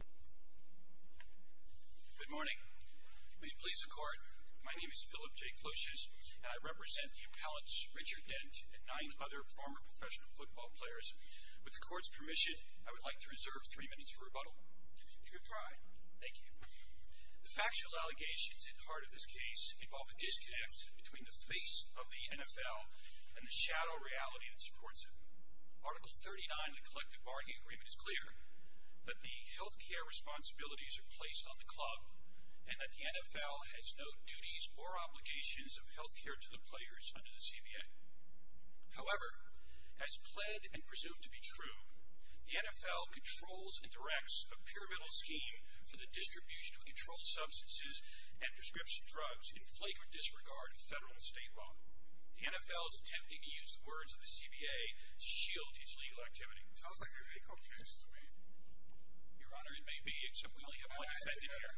Good morning. May it please the Court, my name is Philip J. Kloschus, and I represent the appellants Richard Dent and nine other former professional football players. With the Court's permission, I would like to reserve three minutes for rebuttal. You have tried. Thank you. The factual allegations at the heart of this case involve a disconnect between the face of the NFL and the shadow reality that supports it. Article 39 of the Collective Bargaining Agreement is clear that the health care responsibilities are placed on the club and that the NFL has no duties or obligations of health care to the players under the CBA. However, as pled and presumed to be true, the NFL controls and directs a pyramidal scheme for the distribution of controlled substances and prescription drugs in flagrant disregard of federal and state law. The NFL is attempting to use the words of the CBA to shield its legal activity. Sounds like a RICO case to me. Your Honor, it may be, except we only have one defendant here.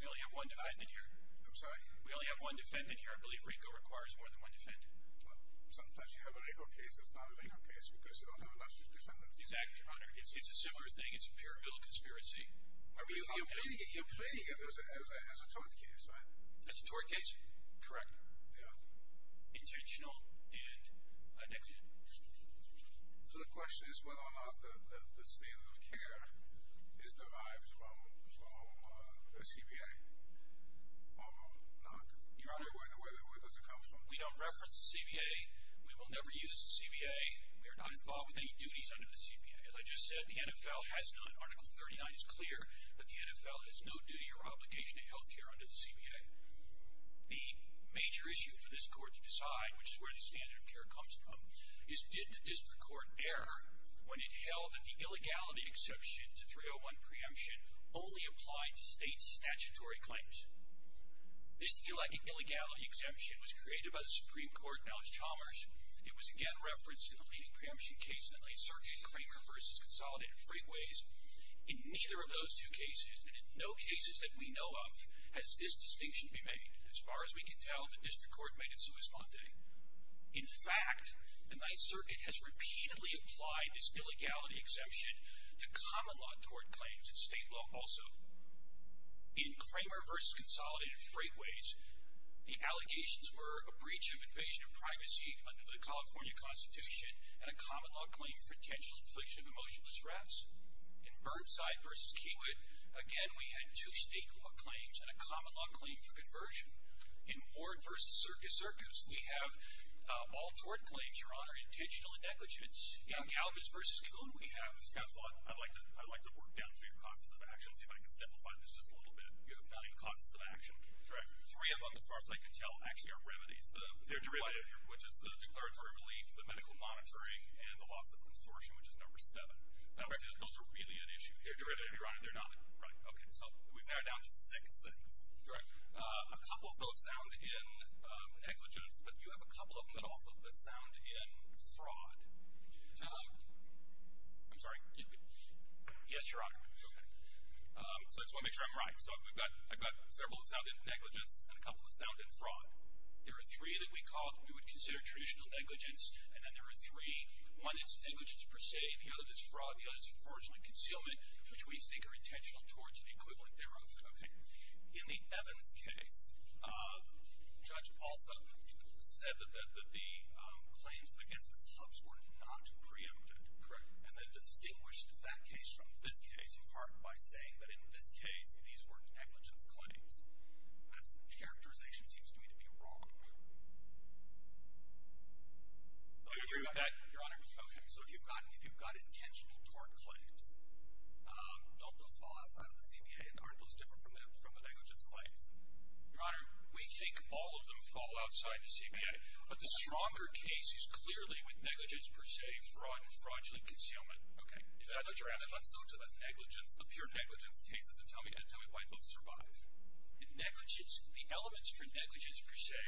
We only have one defendant here. I'm sorry? We only have one defendant here. I believe RICO requires more than one defendant. Well, sometimes you have a RICO case that's not a RICO case because you don't have enough defendants. Exactly, Your Honor. It's a similar thing. It's a pyramidal conspiracy. You're pleading it as a tort case, right? As a tort case? Correct. Intentional and negative. So the question is whether or not the standard of care is derived from the CBA or not. Your Honor, where does it come from? We don't reference the CBA. We will never use the CBA. We are not involved with any duties under the CBA. As I just said, the NFL has none. Article 39 is clear that the NFL has no duty or obligation to health care under the CBA. The major issue for this Court to decide, which is where the standard of care comes from, is did the district court err when it held that the illegality exception to 301 preemption only applied to state statutory claims? This illegality exemption was created by the Supreme Court, now it's Chalmers. It was again referenced in the leading preemption case that laid circuit Cramer v. Consolidated Freightways. In neither of those two cases, and in no cases that we know of, has this distinction been made. As far as we can tell, the district court made its response. In fact, the Ninth Circuit has repeatedly applied this illegality exemption to common law tort claims, state law also. In Cramer v. Consolidated Freightways, the allegations were a breach of invasion of privacy under the California Constitution and a common law claim for intentional infliction of emotional distress. In Burnside v. Keywood, again, we had two state law claims and a common law claim for conversion. In Ward v. Circus Circus, we have all tort claims, Your Honor, intentional negligence. In Galvez v. Coon, we have... Counsel, I'd like to work down to your causes of action, see if I can simplify this just a little bit. You have nine causes of action. Correct. Three of them, as far as I can tell, actually are remedies. They're derivative. Which is the declaratory relief, the medical monitoring, and the loss of consortium, which is number seven. Correct. Those are really at issue here. They're derivative, Your Honor. They're not. Right. Okay. So we've narrowed down to six things. Correct. A couple of those sound in negligence, but you have a couple of them that also sound in fraud. I'm sorry. Yes, Your Honor. Okay. So I just want to make sure I'm right. So I've got several that sound in negligence and a couple that sound in fraud. There are three that we would consider traditional negligence, and then there are three. One is negligence per se, the other is fraud, the other is fraudulent concealment, which we think are intentional towards the equivalent thereof. Okay. In the Evans case, Judge Paulson said that the claims against the clubs were not preempted. Correct. And then distinguished that case from this case in part by saying that in this case, these were negligence claims. That characterization seems to me to be wrong. Your Honor, so if you've got intentional tort claims, don't those fall outside of the CBA? Aren't those different from the negligence claims? Your Honor, we think all of them fall outside the CBA, but the stronger case is clearly with negligence per se, fraud, fraudulent concealment. Okay. If that's what you're asking, let's go to the negligence, the pure negligence cases and tell me why those survive. Negligence, the elements for negligence per se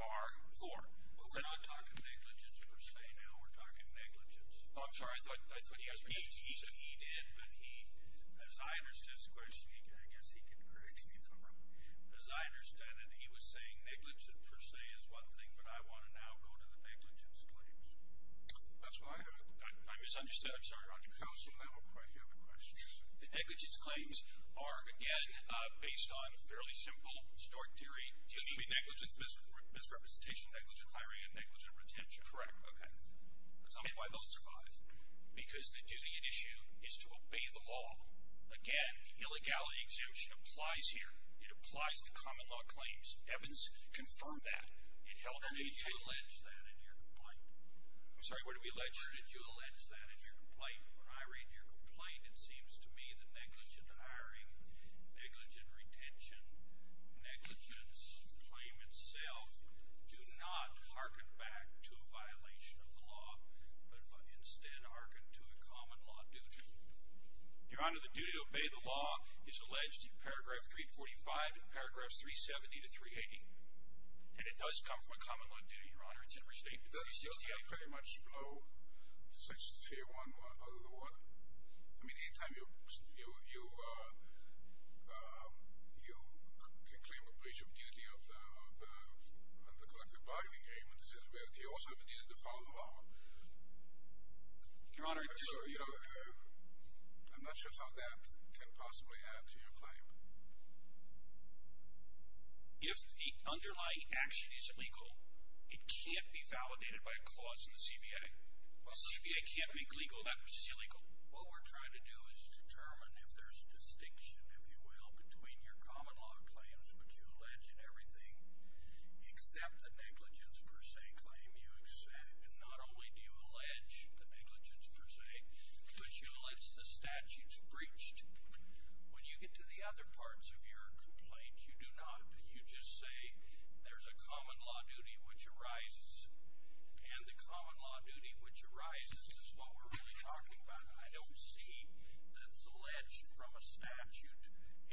are four. We're not talking negligence per se now. We're talking negligence. I'm sorry. I thought you guys were going to use it. He did, but he, as I understood his question, I guess he can correct me if I'm wrong, but as I understand it, he was saying negligence per se is one thing, but I want to now go to the negligence claims. That's what I heard. I misunderstood. I'm sorry. Counsel, then we'll probably hear the questions. The negligence claims are, again, based on a fairly simple stored theory. Negligence, misrepresentation, negligent hiring, and negligent retention. Correct. Okay. Tell me why those survive. Because the duty at issue is to obey the law. Again, the illegality exemption applies here. It applies to common law claims. Evidence confirmed that. I'm sorry, what did we allege? Your Honor, did you allege that in your complaint? When I read your complaint, it seems to me that negligent hiring, negligent retention, negligence claim itself do not hearken back to a violation of the law, but instead hearken to a common law duty. Your Honor, the duty to obey the law is alleged in paragraph 345 and paragraphs 370 to 380, and it does come from a common law duty, Your Honor. Doesn't that pretty much blow 631 out of the water? I mean, anytime you can claim a breach of duty of the collective bargaining agreement, it's as if you also have a duty to follow the law. Your Honor, I'm not sure how that can possibly add to your claim. If the underlying action is illegal, it can't be validated by a clause in the CBA. The CBA can't make legal that which is illegal. What we're trying to do is determine if there's a distinction, if you will, between your common law claims, which you allege in everything, except the negligence per se claim. Not only do you allege the negligence per se, but you allege the statute's breach. When you get to the other parts of your complaint, you do not. You just say there's a common law duty which arises, and the common law duty which arises is what we're really talking about. I don't see that it's alleged from a statute.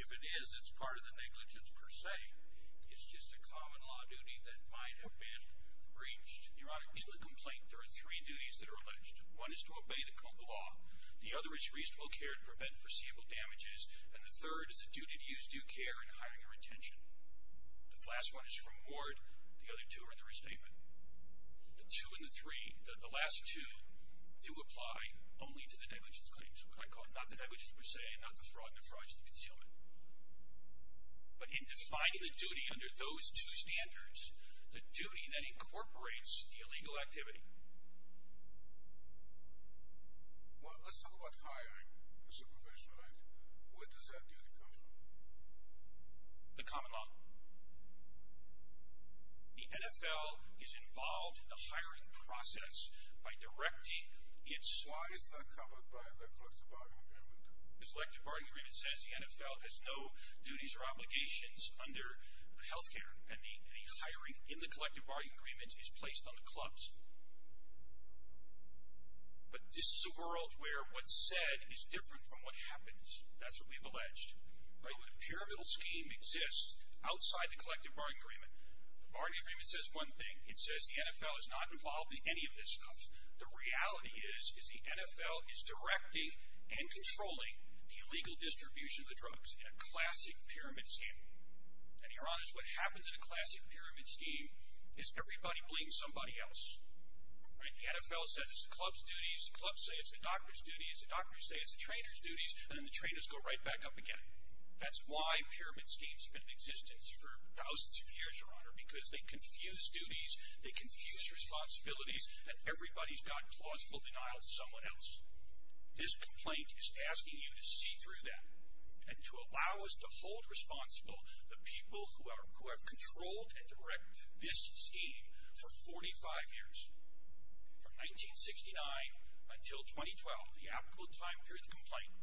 If it is, it's part of the negligence per se. It's just a common law duty that might have been breached. Your Honor, in the complaint, there are three duties that are alleged. One is to obey the common law. The other is reasonable care to prevent foreseeable damages, and the third is the duty to use due care in hiring or retention. The last one is from award. The other two are under restatement. The two and the three, the last two, do apply only to the negligence claims, what I call not the negligence per se, not the fraud and the fraudulent concealment. But in defining the duty under those two standards, the duty that incorporates the illegal activity. Well, let's talk about hiring. It's a provision, right? Where does that duty come from? The common law. The NFL is involved in the hiring process by directing its... Why is that covered by the collective bargaining agreement? The collective bargaining agreement says the NFL has no duties or obligations under health care, and the hiring in the collective bargaining agreement is placed on the clubs. But this is a world where what's said is different from what happens. That's what we've alleged. Right? Where the pyramidal scheme exists outside the collective bargaining agreement. The bargaining agreement says one thing. It says the NFL is not involved in any of this stuff. The reality is, is the NFL is directing and controlling the illegal distribution of the drugs in a classic pyramid scheme. And, Your Honor, what happens in a classic pyramid scheme is everybody blames somebody else. Right? The NFL says it's the club's duties. The clubs say it's the doctor's duties. The doctors say it's the trainer's duties. And then the trainers go right back up again. That's why pyramid schemes have been in existence for thousands of years, Your Honor, because they confuse duties, they confuse responsibilities, and everybody's got plausible denial of someone else. This complaint is asking you to see through that and to allow us to hold responsible the people who have controlled and directed this scheme for 45 years. From 1969 until 2012, the applicable time during the complaint,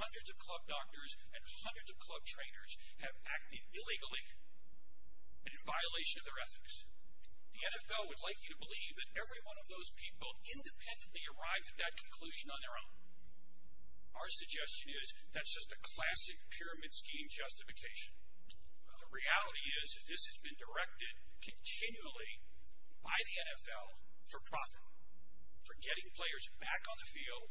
hundreds of club doctors and hundreds of club trainers have acted illegally and in violation of their ethics. The NFL would like you to believe that every one of those people independently arrived at that conclusion on their own. Our suggestion is that's just a classic pyramid scheme justification. The reality is that this has been directed continually by the NFL for profit, for getting players back on the field,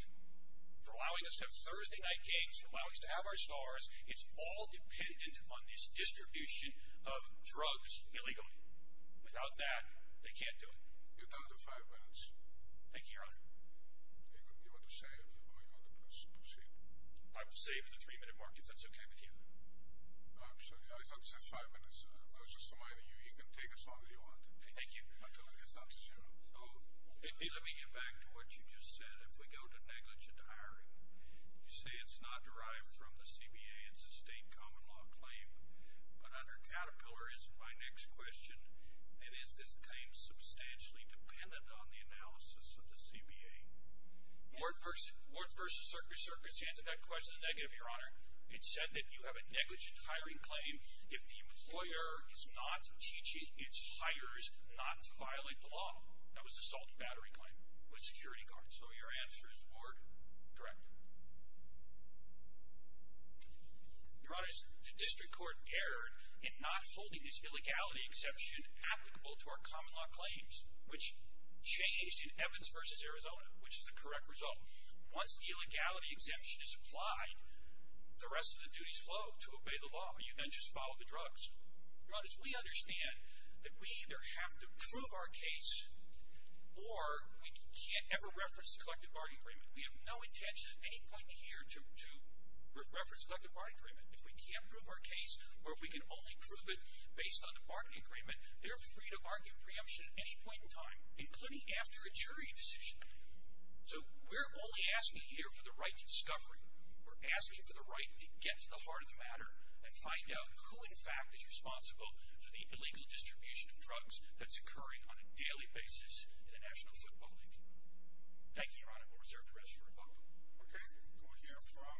for allowing us to have Thursday night games, for allowing us to have our stars. It's all dependent on this distribution of drugs illegally. Without that, they can't do it. You're down to five minutes. Thank you, Your Honor. You want to save or you want to proceed? I will save for the three-minute mark if that's okay with you. I'm sorry, I thought you said five minutes. I was just reminding you, you can take as long as you want. Thank you. Until it gets down to zero. Let me get back to what you just said. If we go to negligent hiring, you say it's not derived from the CBA. It's a state common law claim. But under Caterpillar, is my next question, that is this claim substantially dependent on the analysis of the CBA? Ward versus Circus. You answered that question in the negative, Your Honor. It said that you have a negligent hiring claim if the employer is not teaching its hires not to violate the law. That was assault and battery claim with security guards. So your answer is Ward, correct? Your Honor, the district court erred in not holding this illegality exception applicable to our common law claims, which changed in Evans versus Arizona, which is the correct result. Once the illegality exemption is applied, the rest of the duties flow to obey the law. You then just follow the drugs. Your Honor, we understand that we either have to prove our case or we can't ever reference the collective bargaining agreement. We have no intention at any point here to reference the collective bargaining agreement. If we can't prove our case or if we can only prove it based on the bargaining agreement, they're free to argue preemption at any point in time, including after a jury decision. So we're only asking here for the right to discovery. We're asking for the right to get to the heart of the matter and find out who in fact is responsible for the illegal distribution of drugs that's occurring on a daily basis in the national football league. Thank you, Your Honor. We'll reserve the rest for rebuttal. Okay. We'll hear from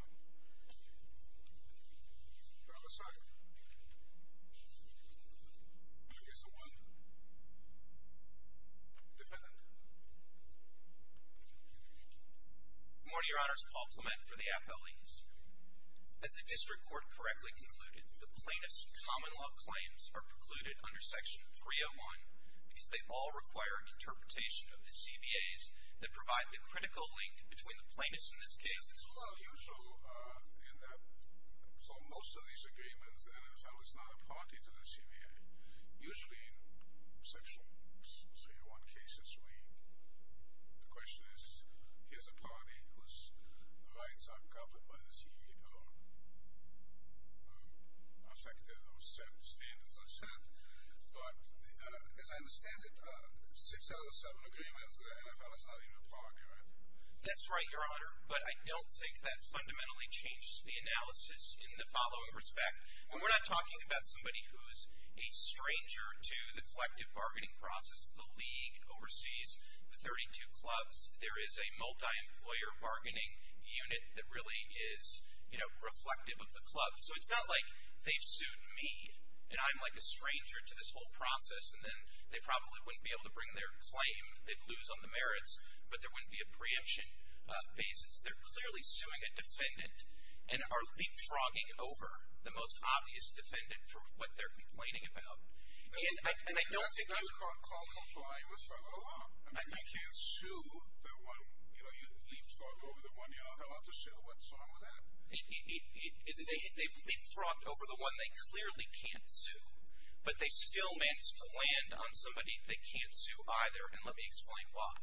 the other side. I guess the one dependent. Good morning, Your Honors. Paul Clement for the appellees. As the district court correctly concluded, the plaintiff's common law claims are precluded under Section 301 because they all require an interpretation of the CBAs that provide the critical link between the plaintiffs in this case. It's a little unusual in that for most of these agreements, the NFL is not a party to the CBA. Usually in Section 301 cases, the question is, here's a party whose rights aren't covered by the CBO. I second those standards I've set. But as I understand it, six out of the seven agreements, the NFL is not even a party, right? That's right, Your Honor. But I don't think that fundamentally changes the analysis in the following respect. And we're not talking about somebody who's a stranger to the collective bargaining process. The league oversees the 32 clubs. There is a multi-employer bargaining unit that really is reflective of the club. So it's not like they've sued me, and I'm like a stranger to this whole process, and then they probably wouldn't be able to bring their claim. They'd lose on the merits, but there wouldn't be a preemption basis. They're clearly suing a defendant and are leapfrogging over the most obvious defendant for what they're complaining about. You can't leapfrog over the one you're not allowed to sue. What's wrong with that? They've leapfrogged over the one they clearly can't sue, but they've still managed to land on somebody they can't sue either, and let me explain why.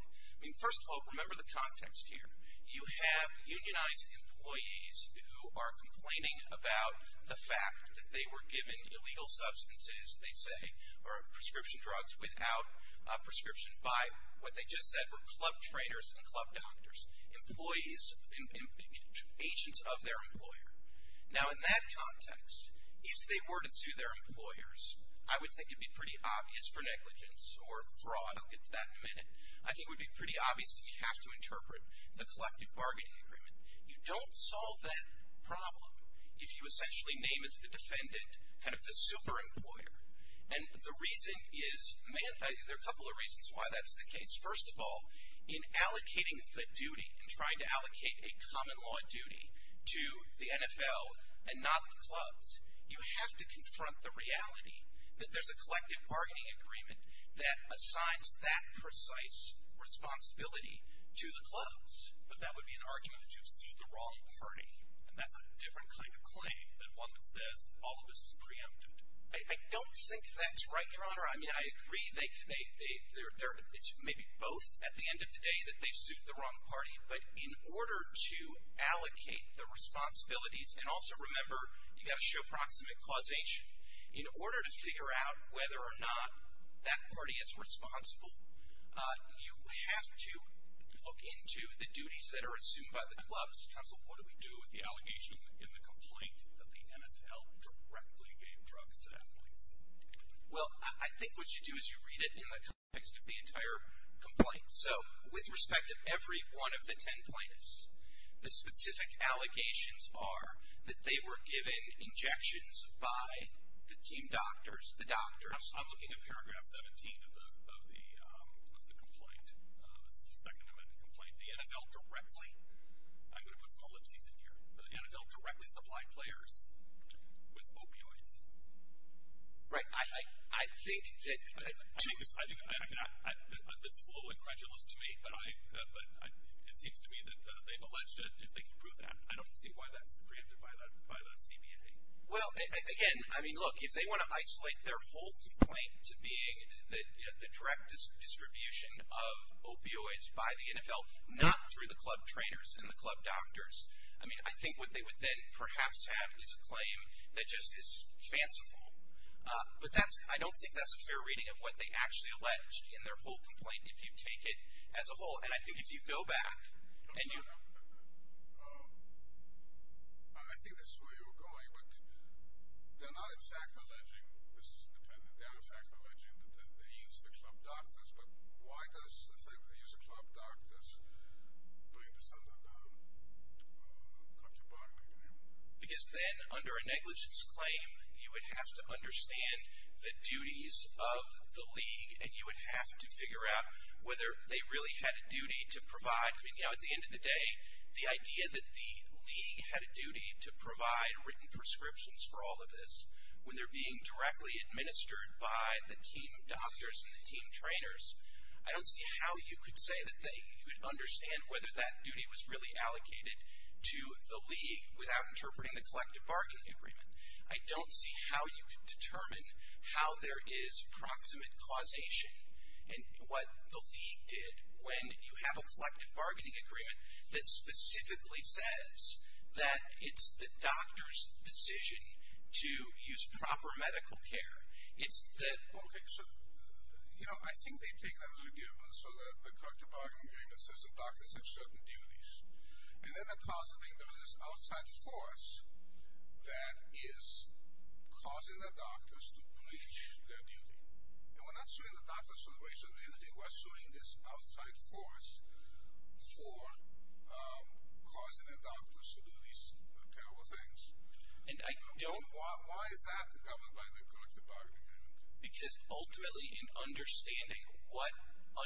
First of all, remember the context here. You have unionized employees who are complaining about the fact that they were given illegal substances, they say, or prescription drugs without a prescription by what they just said were club trainers and club doctors, employees and agents of their employer. Now in that context, if they were to sue their employers, I would think it would be pretty obvious for negligence or fraud. I'll get to that in a minute. I think it would be pretty obvious that you'd have to interpret the collective bargaining agreement. You don't solve that problem if you essentially name as the defendant kind of the super employer, and the reason is, there are a couple of reasons why that's the case. First of all, in allocating the duty, in trying to allocate a common law duty to the NFL and not the clubs, you have to confront the reality that there's a collective bargaining agreement that assigns that precise responsibility to the clubs. But that would be an argument that you sued the wrong party, and that's a different kind of claim than one that says all of this was preempted. I don't think that's right, Your Honor. I mean, I agree. It's maybe both at the end of the day that they sued the wrong party, but in order to allocate the responsibilities, and also remember, you've got to show proximate causation. In order to figure out whether or not that party is responsible, you have to look into the duties that are assumed by the clubs So what do we do with the allegation in the complaint that the NFL directly gave drugs to athletes? Well, I think what you do is you read it in the context of the entire complaint. So with respect to every one of the ten plaintiffs, the specific allegations are that they were given injections by the team doctors, the doctors. I'm looking at paragraph 17 of the complaint. This is the second of the complaint. I'm going to put some ellipses in here. The NFL directly supplied players with opioids. Right. I think that... I think this is a little incredulous to me, but it seems to me that they've alleged it, and they can prove that. I don't see why that's preempted by that CBA. Well, again, I mean, look, if they want to isolate their whole complaint to being the direct distribution of opioids by the NFL, not through the club trainers and the club doctors, I mean, I think what they would then perhaps have is a claim that just is fanciful. But I don't think that's a fair reading of what they actually alleged in their whole complaint, if you take it as a whole. And I think if you go back and you... I think this is where you were going, but they're not in fact alleging, this is dependent, they are in fact alleging that they used the club doctors, but why does the fact that they used the club doctors bring this under contraband? Because then, under a negligence claim, you would have to understand the duties of the league, and you would have to figure out whether they really had a duty to provide... I mean, you know, at the end of the day, the idea that the league had a duty to provide written prescriptions for all of this, when they're being directly administered by the team doctors and the team trainers, I don't see how you could say that you could understand whether that duty was really allocated to the league without interpreting the collective bargaining agreement. I don't see how you could determine how there is proximate causation and what the league did when you have a collective bargaining agreement that specifically says that it's the doctor's decision to use proper medical care. It's that... Okay, so, you know, I think they take that as a given, so that the collective bargaining agreement says the doctors have certain duties, and then I think there's this outside force that is causing the doctors to breach their duty. And we're not suing the doctors for breach of duty, we're suing this outside force for causing the doctors to do these terrible things. And I don't... Why is that governed by the collective bargaining agreement? Because ultimately in understanding what,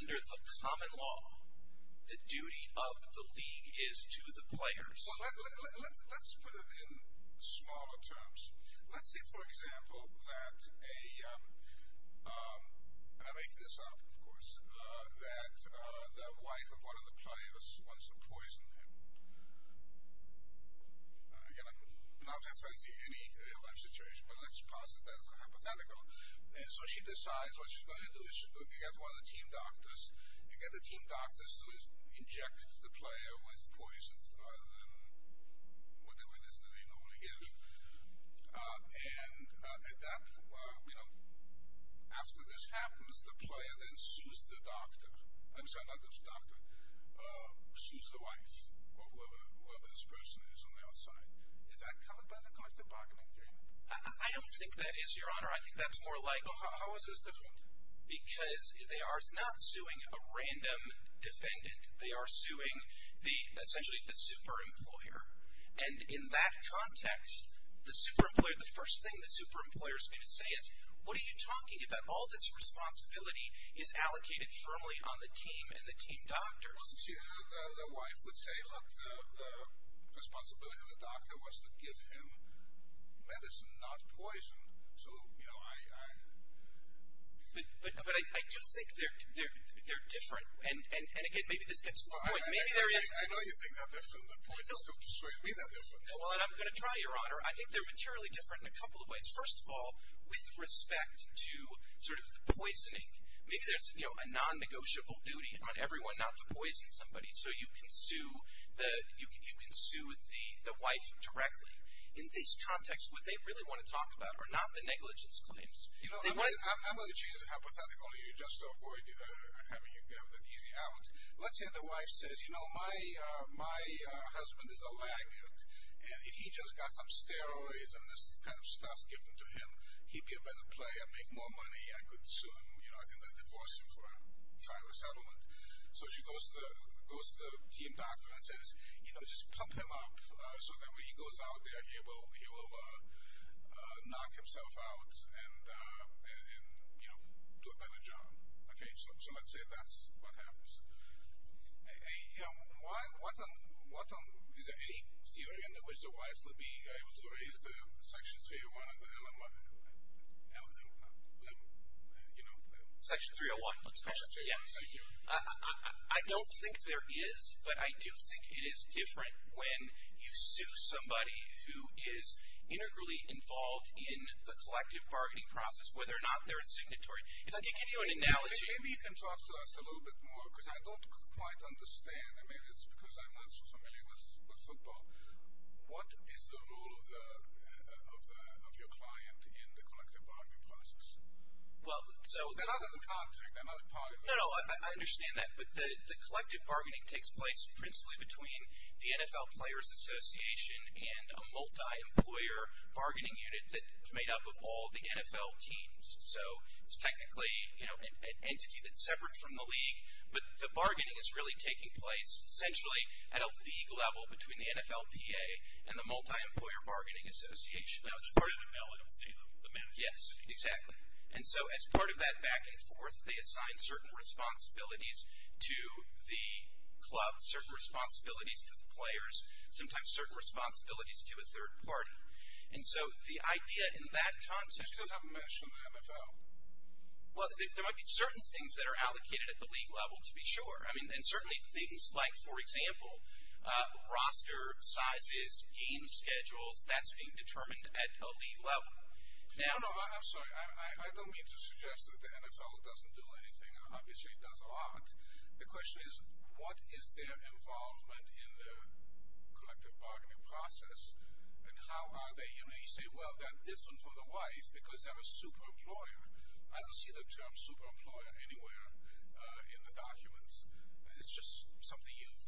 under the common law, the duty of the league is to the players. Well, let's put it in smaller terms. Let's say, for example, that a... that the wife of one of the players wants to poison him. Again, I'm not referencing any real-life situation, but let's posit that as a hypothetical. And so she decides what she's going to do is she's going to get one of the team doctors and get the team doctors to inject the player with poison, rather than with the witness that they normally give. And at that point, you know, after this happens, the player then sues the doctor. I'm sorry, not the doctor. Sues the wife or whoever this person is on the outside. Is that covered by the collective bargaining agreement? I don't think that is, Your Honor. I think that's more like... How is this different? Because they are not suing a random defendant. They are suing essentially the super-employer. And in that context, the super-employer, the first thing the super-employer is going to say is, what are you talking about? All this responsibility is allocated firmly on the team and the team doctors. Well, see, the wife would say, look, the responsibility of the doctor was to give him medicine, not poison. So, you know, I... But I do think they're different. And again, maybe this gets to the point. Maybe there is... Well, I'm going to try, Your Honor. I think they're materially different in a couple of ways. First of all, with respect to sort of the poisoning. Maybe there's a non-negotiable duty on everyone not to poison somebody. So you can sue the wife directly. In this context, what they really want to talk about are not the negligence claims. I'm going to choose to help, because I think all you're doing is just to avoid having an easy out. Let's say the wife says, you know, my husband is a laggard, and if he just got some steroids and this kind of stuff given to him, he'd be a better player, make more money, I could sue him, I could divorce him for a final settlement. So she goes to the team doctor and says, you know, just pump him up so that when he goes out there, he will knock himself out and, you know, do a better job. Okay. So let's say that's what happens. You know, is there any theory in which the wives would be able to, or is there Section 301 of the LMI? Section 301. Let's call it that. Thank you. I don't think there is, but I do think it is different when you sue somebody who is integrally involved in the collective bargaining process, whether or not they're a signatory. If I can give you an analogy. Maybe you can talk to us a little bit more, because I don't quite understand. I mean, it's because I'm not so familiar with football. What is the role of your client in the collective bargaining process? They're not in the contract. They're not a part of it. No, no, I understand that. But the collective bargaining takes place principally between the NFL Players Association and a multi-employer bargaining unit that's made up of all the NFL teams. So it's technically, you know, an entity that's separate from the league, but the bargaining is really taking place essentially at a league level between the NFLPA and the Multi-Employer Bargaining Association. Now, it's part of the MLMC, though, the manager. Yes, exactly. And so as part of that back and forth, they assign certain responsibilities to the club, certain responsibilities to the players, sometimes certain responsibilities to a third party. And so the idea in that context. You just haven't mentioned the NFL. Well, there might be certain things that are allocated at the league level, to be sure. I mean, and certainly things like, for example, roster sizes, game schedules, that's being determined at a league level. No, no, I'm sorry. I don't mean to suggest that the NFL doesn't do anything. Obviously it does a lot. The question is what is their involvement in the collective bargaining process and how are they? You know, you say, well, they're different from the wife because they're a super employer. I don't see the term super employer anywhere in the documents. It's just something you've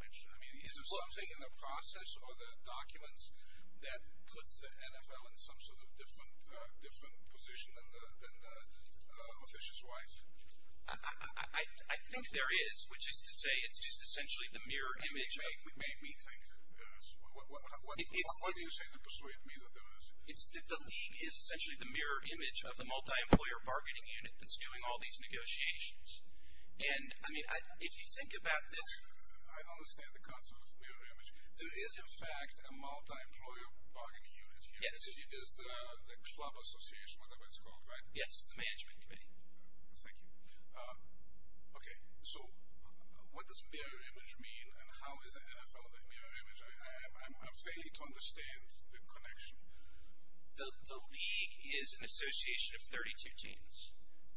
mentioned. I mean, is there something in the process or the documents that puts the NFL in some sort of different position than the official's wife? I think there is, which is to say it's just essentially the mirror image. It made me think. What do you say to persuade me that there is? It's that the league is essentially the mirror image of the multi-employer bargaining unit that's doing all these negotiations. And, I mean, if you think about this. I understand the concept of mirror image. There is, in fact, a multi-employer bargaining unit here. It is the club association, whatever it's called, right? Yes, the management committee. Thank you. Okay, so what does mirror image mean and how is the NFL the mirror image? I'm failing to understand the connection. The league is an association of 32 teams.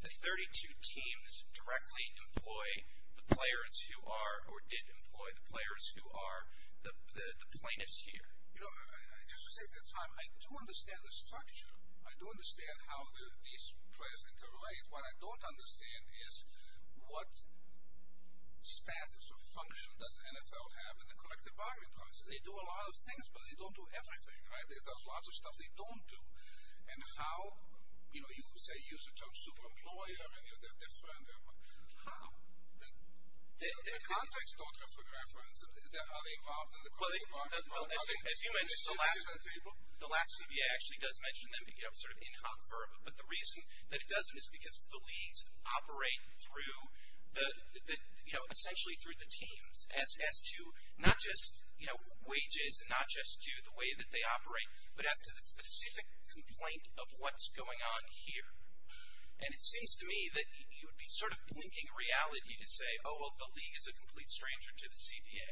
The 32 teams directly employ the players who are or did employ the players who are the plaintiffs here. You know, just to save you time, I do understand the structure. I do understand how these players interrelate. What I don't understand is what status or function does NFL have in the collective bargaining process. They do a lot of things, but they don't do everything, right? There's lots of stuff they don't do. And how, you know, you say you're some super employer and they're different. How? The contracts don't have a reference. Are they involved in the corporate bargaining process? Well, as you mentioned, the last CBA actually does mention them, you know, sort of in hot verb. But the reason that it doesn't is because the leagues operate through the, you know, essentially through the teams as to not just, you know, wages and not just to the way that they operate, but as to the specific complaint of what's going on here. And it seems to me that you would be sort of blinking reality to say, oh, well, the league is a complete stranger to the CBA.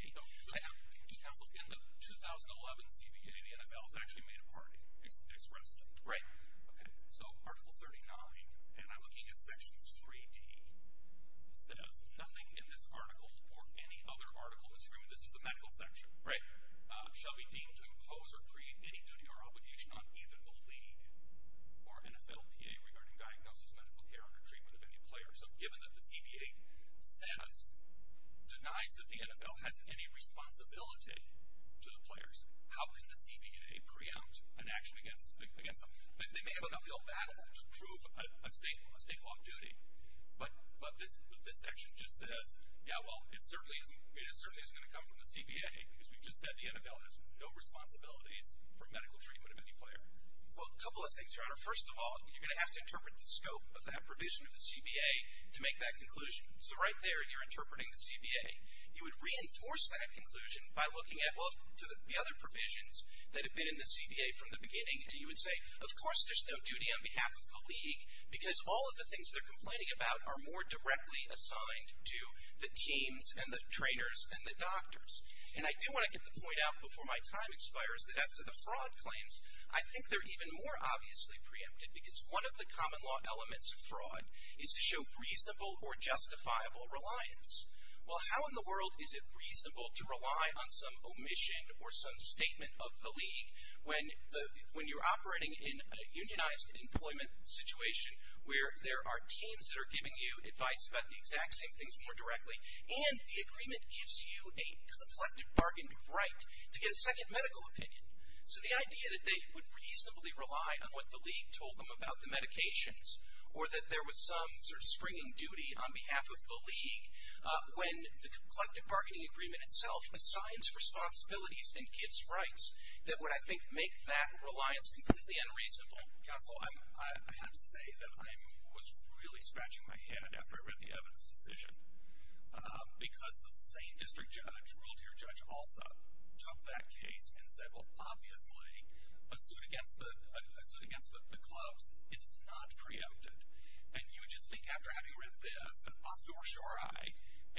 Counsel, again, the 2011 CBA, the NFL has actually made a party expressly. Right. Okay. So Article 39, and I'm looking at Section 3D. It says, nothing in this article or any other article in this agreement, this is the medical section. Right. Shall be deemed to impose or create any duty or obligation on either the league or NFL PA regarding diagnosis, medical care, or treatment of any player. So given that the CBA says, denies that the NFL has any responsibility to the players, how can the CBA preempt an action against them? They may have an uphill battle to prove a state law of duty, but this section just says, yeah, well, it certainly isn't going to come from the CBA because we just said the NFL has no responsibilities for medical treatment of any player. Well, a couple of things, Your Honor. First of all, you're going to have to interpret the scope of that provision of the CBA to make that conclusion. So right there, you're interpreting the CBA. You would reinforce that conclusion by looking at the other provisions that have been in the CBA from the beginning. And you would say, of course there's no duty on behalf of the league because all of the things they're complaining about are more directly assigned to the teams and the trainers and the doctors. And I do want to get the point out before my time expires that as to the fraud claims, I think they're even more obviously preempted because one of the common law elements of fraud is to show reasonable or justifiable reliance. Well, how in the world is it reasonable to rely on some omission or some statement of the league when you're operating in a unionized employment situation where there are teams that are giving you advice about the exact same things more directly and the agreement gives you a complected bargained right to get a second medical opinion. So the idea that they would reasonably rely on what the league told them about the medications or that there was some sort of springing duty on behalf of the league when the complected bargaining agreement itself assigns responsibilities and gives rights, that would, I think, make that reliance completely unreasonable. Counsel, I have to say that I was really scratching my head after I read the evidence decision because the same district judge, a rural tier judge, also took that case and said, well, obviously, a suit against the clubs is not preempted. And you just think after having read this that off to a sure eye,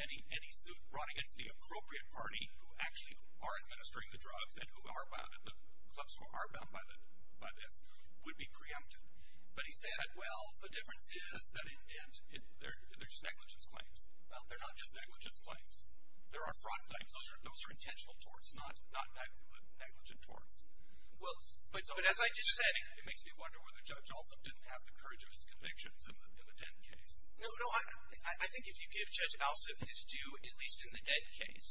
any suit brought against the appropriate party who actually are administering the drugs and the clubs who are bound by this would be preempted. But he said, well, the difference is that in Dent, they're just negligence claims. Well, they're not just negligence claims. There are fraud claims. Those are intentional torts, not negligent torts. But as I just said, it makes me wonder whether Judge Alsup didn't have the courage of his convictions in the Dent case. No, no. I think if you give Judge Alsup his due, at least in the Dent case,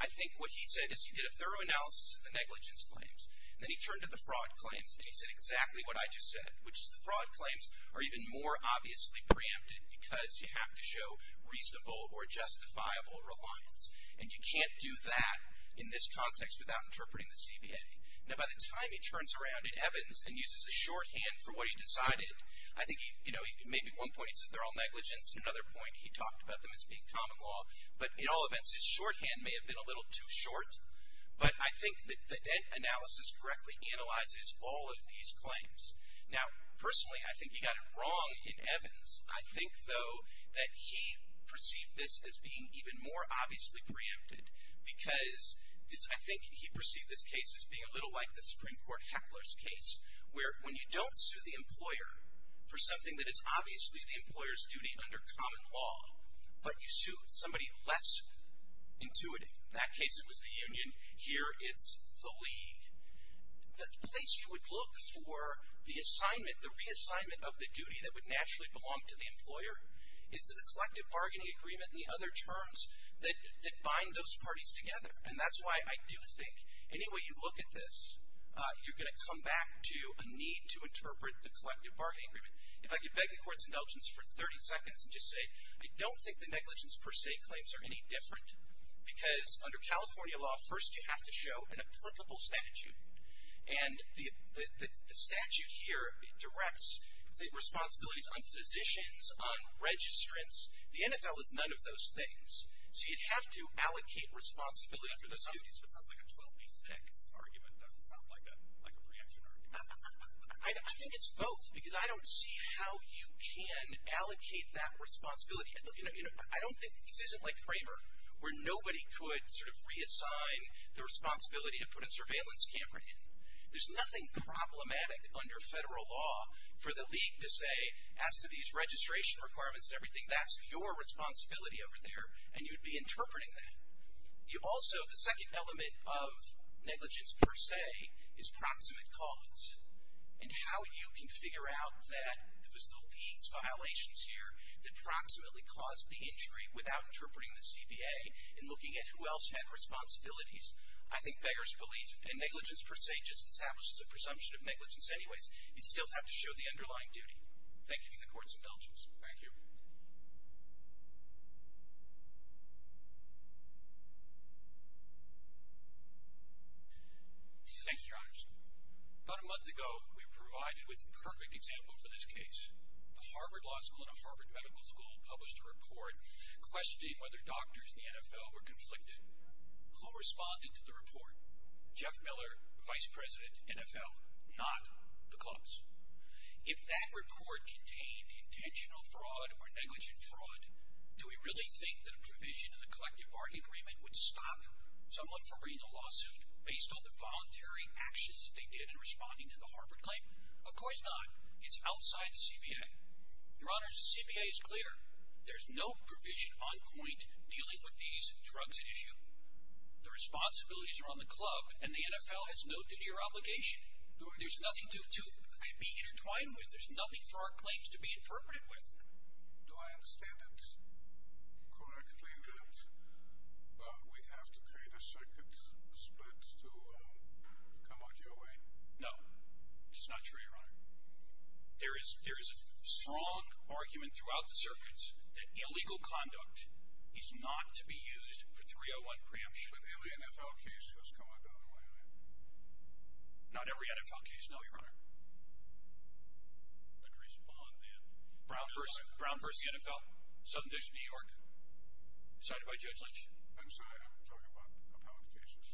I think what he said is he did a thorough analysis of the negligence claims, and then he turned to the fraud claims, and he said exactly what I just said, which is the fraud claims are even more obviously preempted because you have to show reasonable or justifiable reliance. And you can't do that in this context without interpreting the CBA. Now, by the time he turns around in Evans and uses a shorthand for what he decided, I think, you know, maybe at one point he said they're all negligence, and at another point he talked about them as being common law. But in all events, his shorthand may have been a little too short. But I think that the Dent analysis correctly analyzes all of these claims. Now, personally, I think he got it wrong in Evans. I think, though, that he perceived this as being even more obviously preempted because I think he perceived this case as being a little like the Supreme Court Heckler's case, where when you don't sue the employer for something that is obviously the employer's duty under common law, but you sue somebody less intuitive. In that case, it was the union. Here, it's the league. The place you would look for the assignment, the reassignment of the duty that would naturally belong to the employer, is to the collective bargaining agreement and the other terms that bind those parties together. And that's why I do think any way you look at this, you're going to come back to a need to interpret the collective bargaining agreement. If I could beg the Court's indulgence for 30 seconds and just say, I don't think the negligence per se claims are any different because under California law, first you have to show an applicable statute. And the statute here directs the responsibilities on physicians, on registrants. The NFL is none of those things. So you'd have to allocate responsibility for those duties. It sounds like a 12B6 argument. It doesn't sound like a preemption argument. I think it's both because I don't see how you can allocate that responsibility. I don't think this isn't like Kramer, where nobody could sort of reassign the responsibility to put a surveillance camera in. There's nothing problematic under federal law for the league to say, as to these registration requirements and everything, that's your responsibility over there, and you'd be interpreting that. You also, the second element of negligence per se is proximate cause. And how you can figure out that it was the league's violations here that proximately caused the injury without interpreting the CBA and looking at who else had responsibilities. I think Beggar's belief in negligence per se just establishes a presumption of negligence anyways. You still have to show the underlying duty. Thank you from the courts of Belgians. Thank you. Thanks, Your Honors. About a month ago, we were provided with a perfect example for this case. The Harvard Law School and the Harvard Medical School published a report questioning whether doctors in the NFL were conflicted. Who responded to the report? Jeff Miller, Vice President, NFL, not the clubs. If that report contained intentional fraud or negligent fraud, do we really think that a provision in the collective bargaining agreement would stop someone from bringing a lawsuit based on the voluntary actions that they did in responding to the Harvard claim? Of course not. It's outside the CBA. Your Honors, the CBA is clear. There's no provision on point dealing with these drugs at issue. The responsibilities are on the club, and the NFL has no duty or obligation. There's nothing to be intertwined with. There's nothing for our claims to be interpreted with. Do I understand it correctly that we'd have to create a circuit split to come out your way? No. It's not true, Your Honor. There is a strong argument throughout the circuit that illegal conduct is not to be used for 301 preemption. But every NFL case has come out the other way, right? Not every NFL case, no, Your Honor. But respond then. Brown v. NFL, Southern District of New York, decided by Judge Lynch. I'm sorry, I'm talking about appellate cases.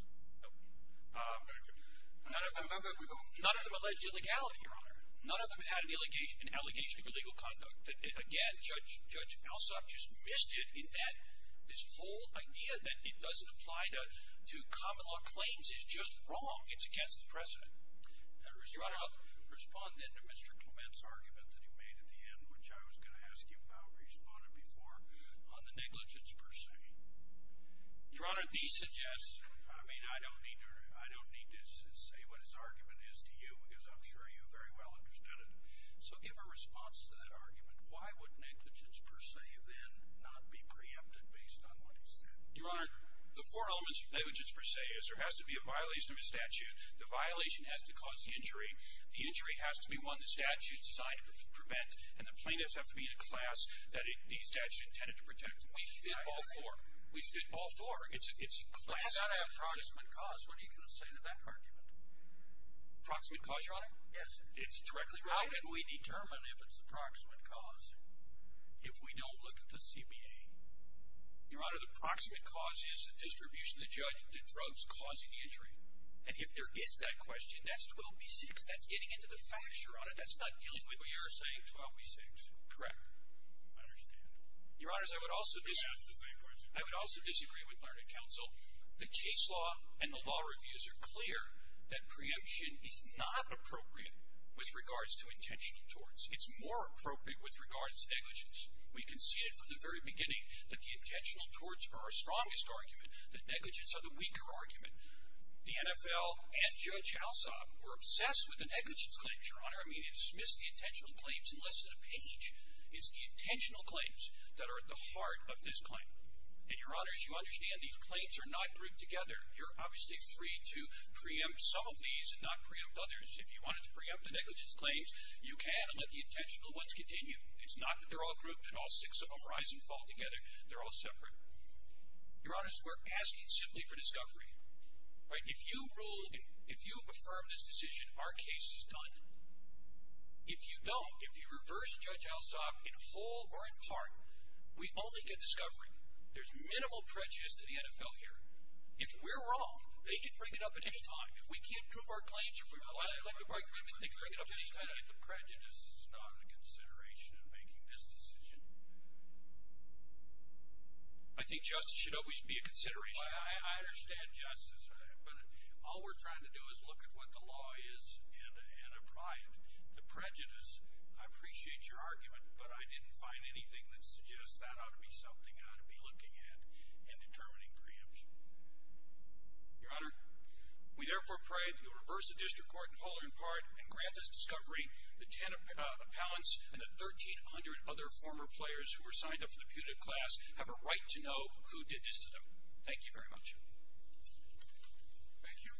None of them alleged illegality, Your Honor. None of them had an allegation of illegal conduct. Again, Judge Alsop just missed it in that this whole idea that it doesn't apply to common law claims is just wrong. It's against the precedent. Your Honor, respond then to Mr. Clement's argument that he made at the end, which I was going to ask you about, responded before, on the negligence per se. Your Honor, these suggests, I mean, I don't need to say what his argument is to you, because I'm sure you very well understood it. So give a response to that argument. Why would negligence per se then not be preempted based on what he said? Your Honor, the four elements of negligence per se is there has to be a violation of a statute, the violation has to cause the injury, the injury has to be won, the statute is designed to prevent, and the plaintiffs have to be in a class that the statute intended to protect. We fit all four. We fit all four. It has to have a proximate cause. What are you going to say to that argument? Proximate cause, Your Honor? Yes. It's directly related. How can we determine if it's the proximate cause if we don't look at the CBA? Your Honor, the proximate cause is the distribution of the judge to drugs causing the injury. And if there is that question, that's 12B6. That's getting into the facts, Your Honor. That's not dealing with what you're saying. 12B6. Correct. I understand. Your Honors, I would also disagree with Learned Counsel. The case law and the law reviews are clear that preemption is not appropriate with regards to intentional torts. It's more appropriate with regards to negligence. We conceded from the very beginning that the intentional torts are our strongest argument, that negligence are the weaker argument. The NFL and Judge Alsop were obsessed with the negligence claims, Your Honor. It's the intentional claims that are at the heart of this claim. And, Your Honors, you understand these claims are not grouped together. You're obviously free to preempt some of these and not preempt others. If you wanted to preempt the negligence claims, you can and let the intentional ones continue. It's not that they're all grouped and all six of them rise and fall together. They're all separate. Your Honors, we're asking simply for discovery, right? If you rule, if you affirm this decision, our case is done. If you don't, if you reverse Judge Alsop in whole or in part, we only get discovery. There's minimal prejudice to the NFL here. If we're wrong, they can bring it up at any time. If we can't prove our claims, if we rely on the collective bargaining agreement, they can bring it up at any time. The prejudice is not a consideration in making this decision. I think justice should always be a consideration. I understand justice, but all we're trying to do is look at what the law is and apply it. The prejudice, I appreciate your argument, but I didn't find anything that suggests that ought to be something I ought to be looking at in determining preemption. Your Honor, we therefore pray that you reverse the District Court in whole or in part and grant us discovery. The 10 appellants and the 1,300 other former players who were signed up for the putative class have a right to know who did this to them. Thank you very much. Thank you.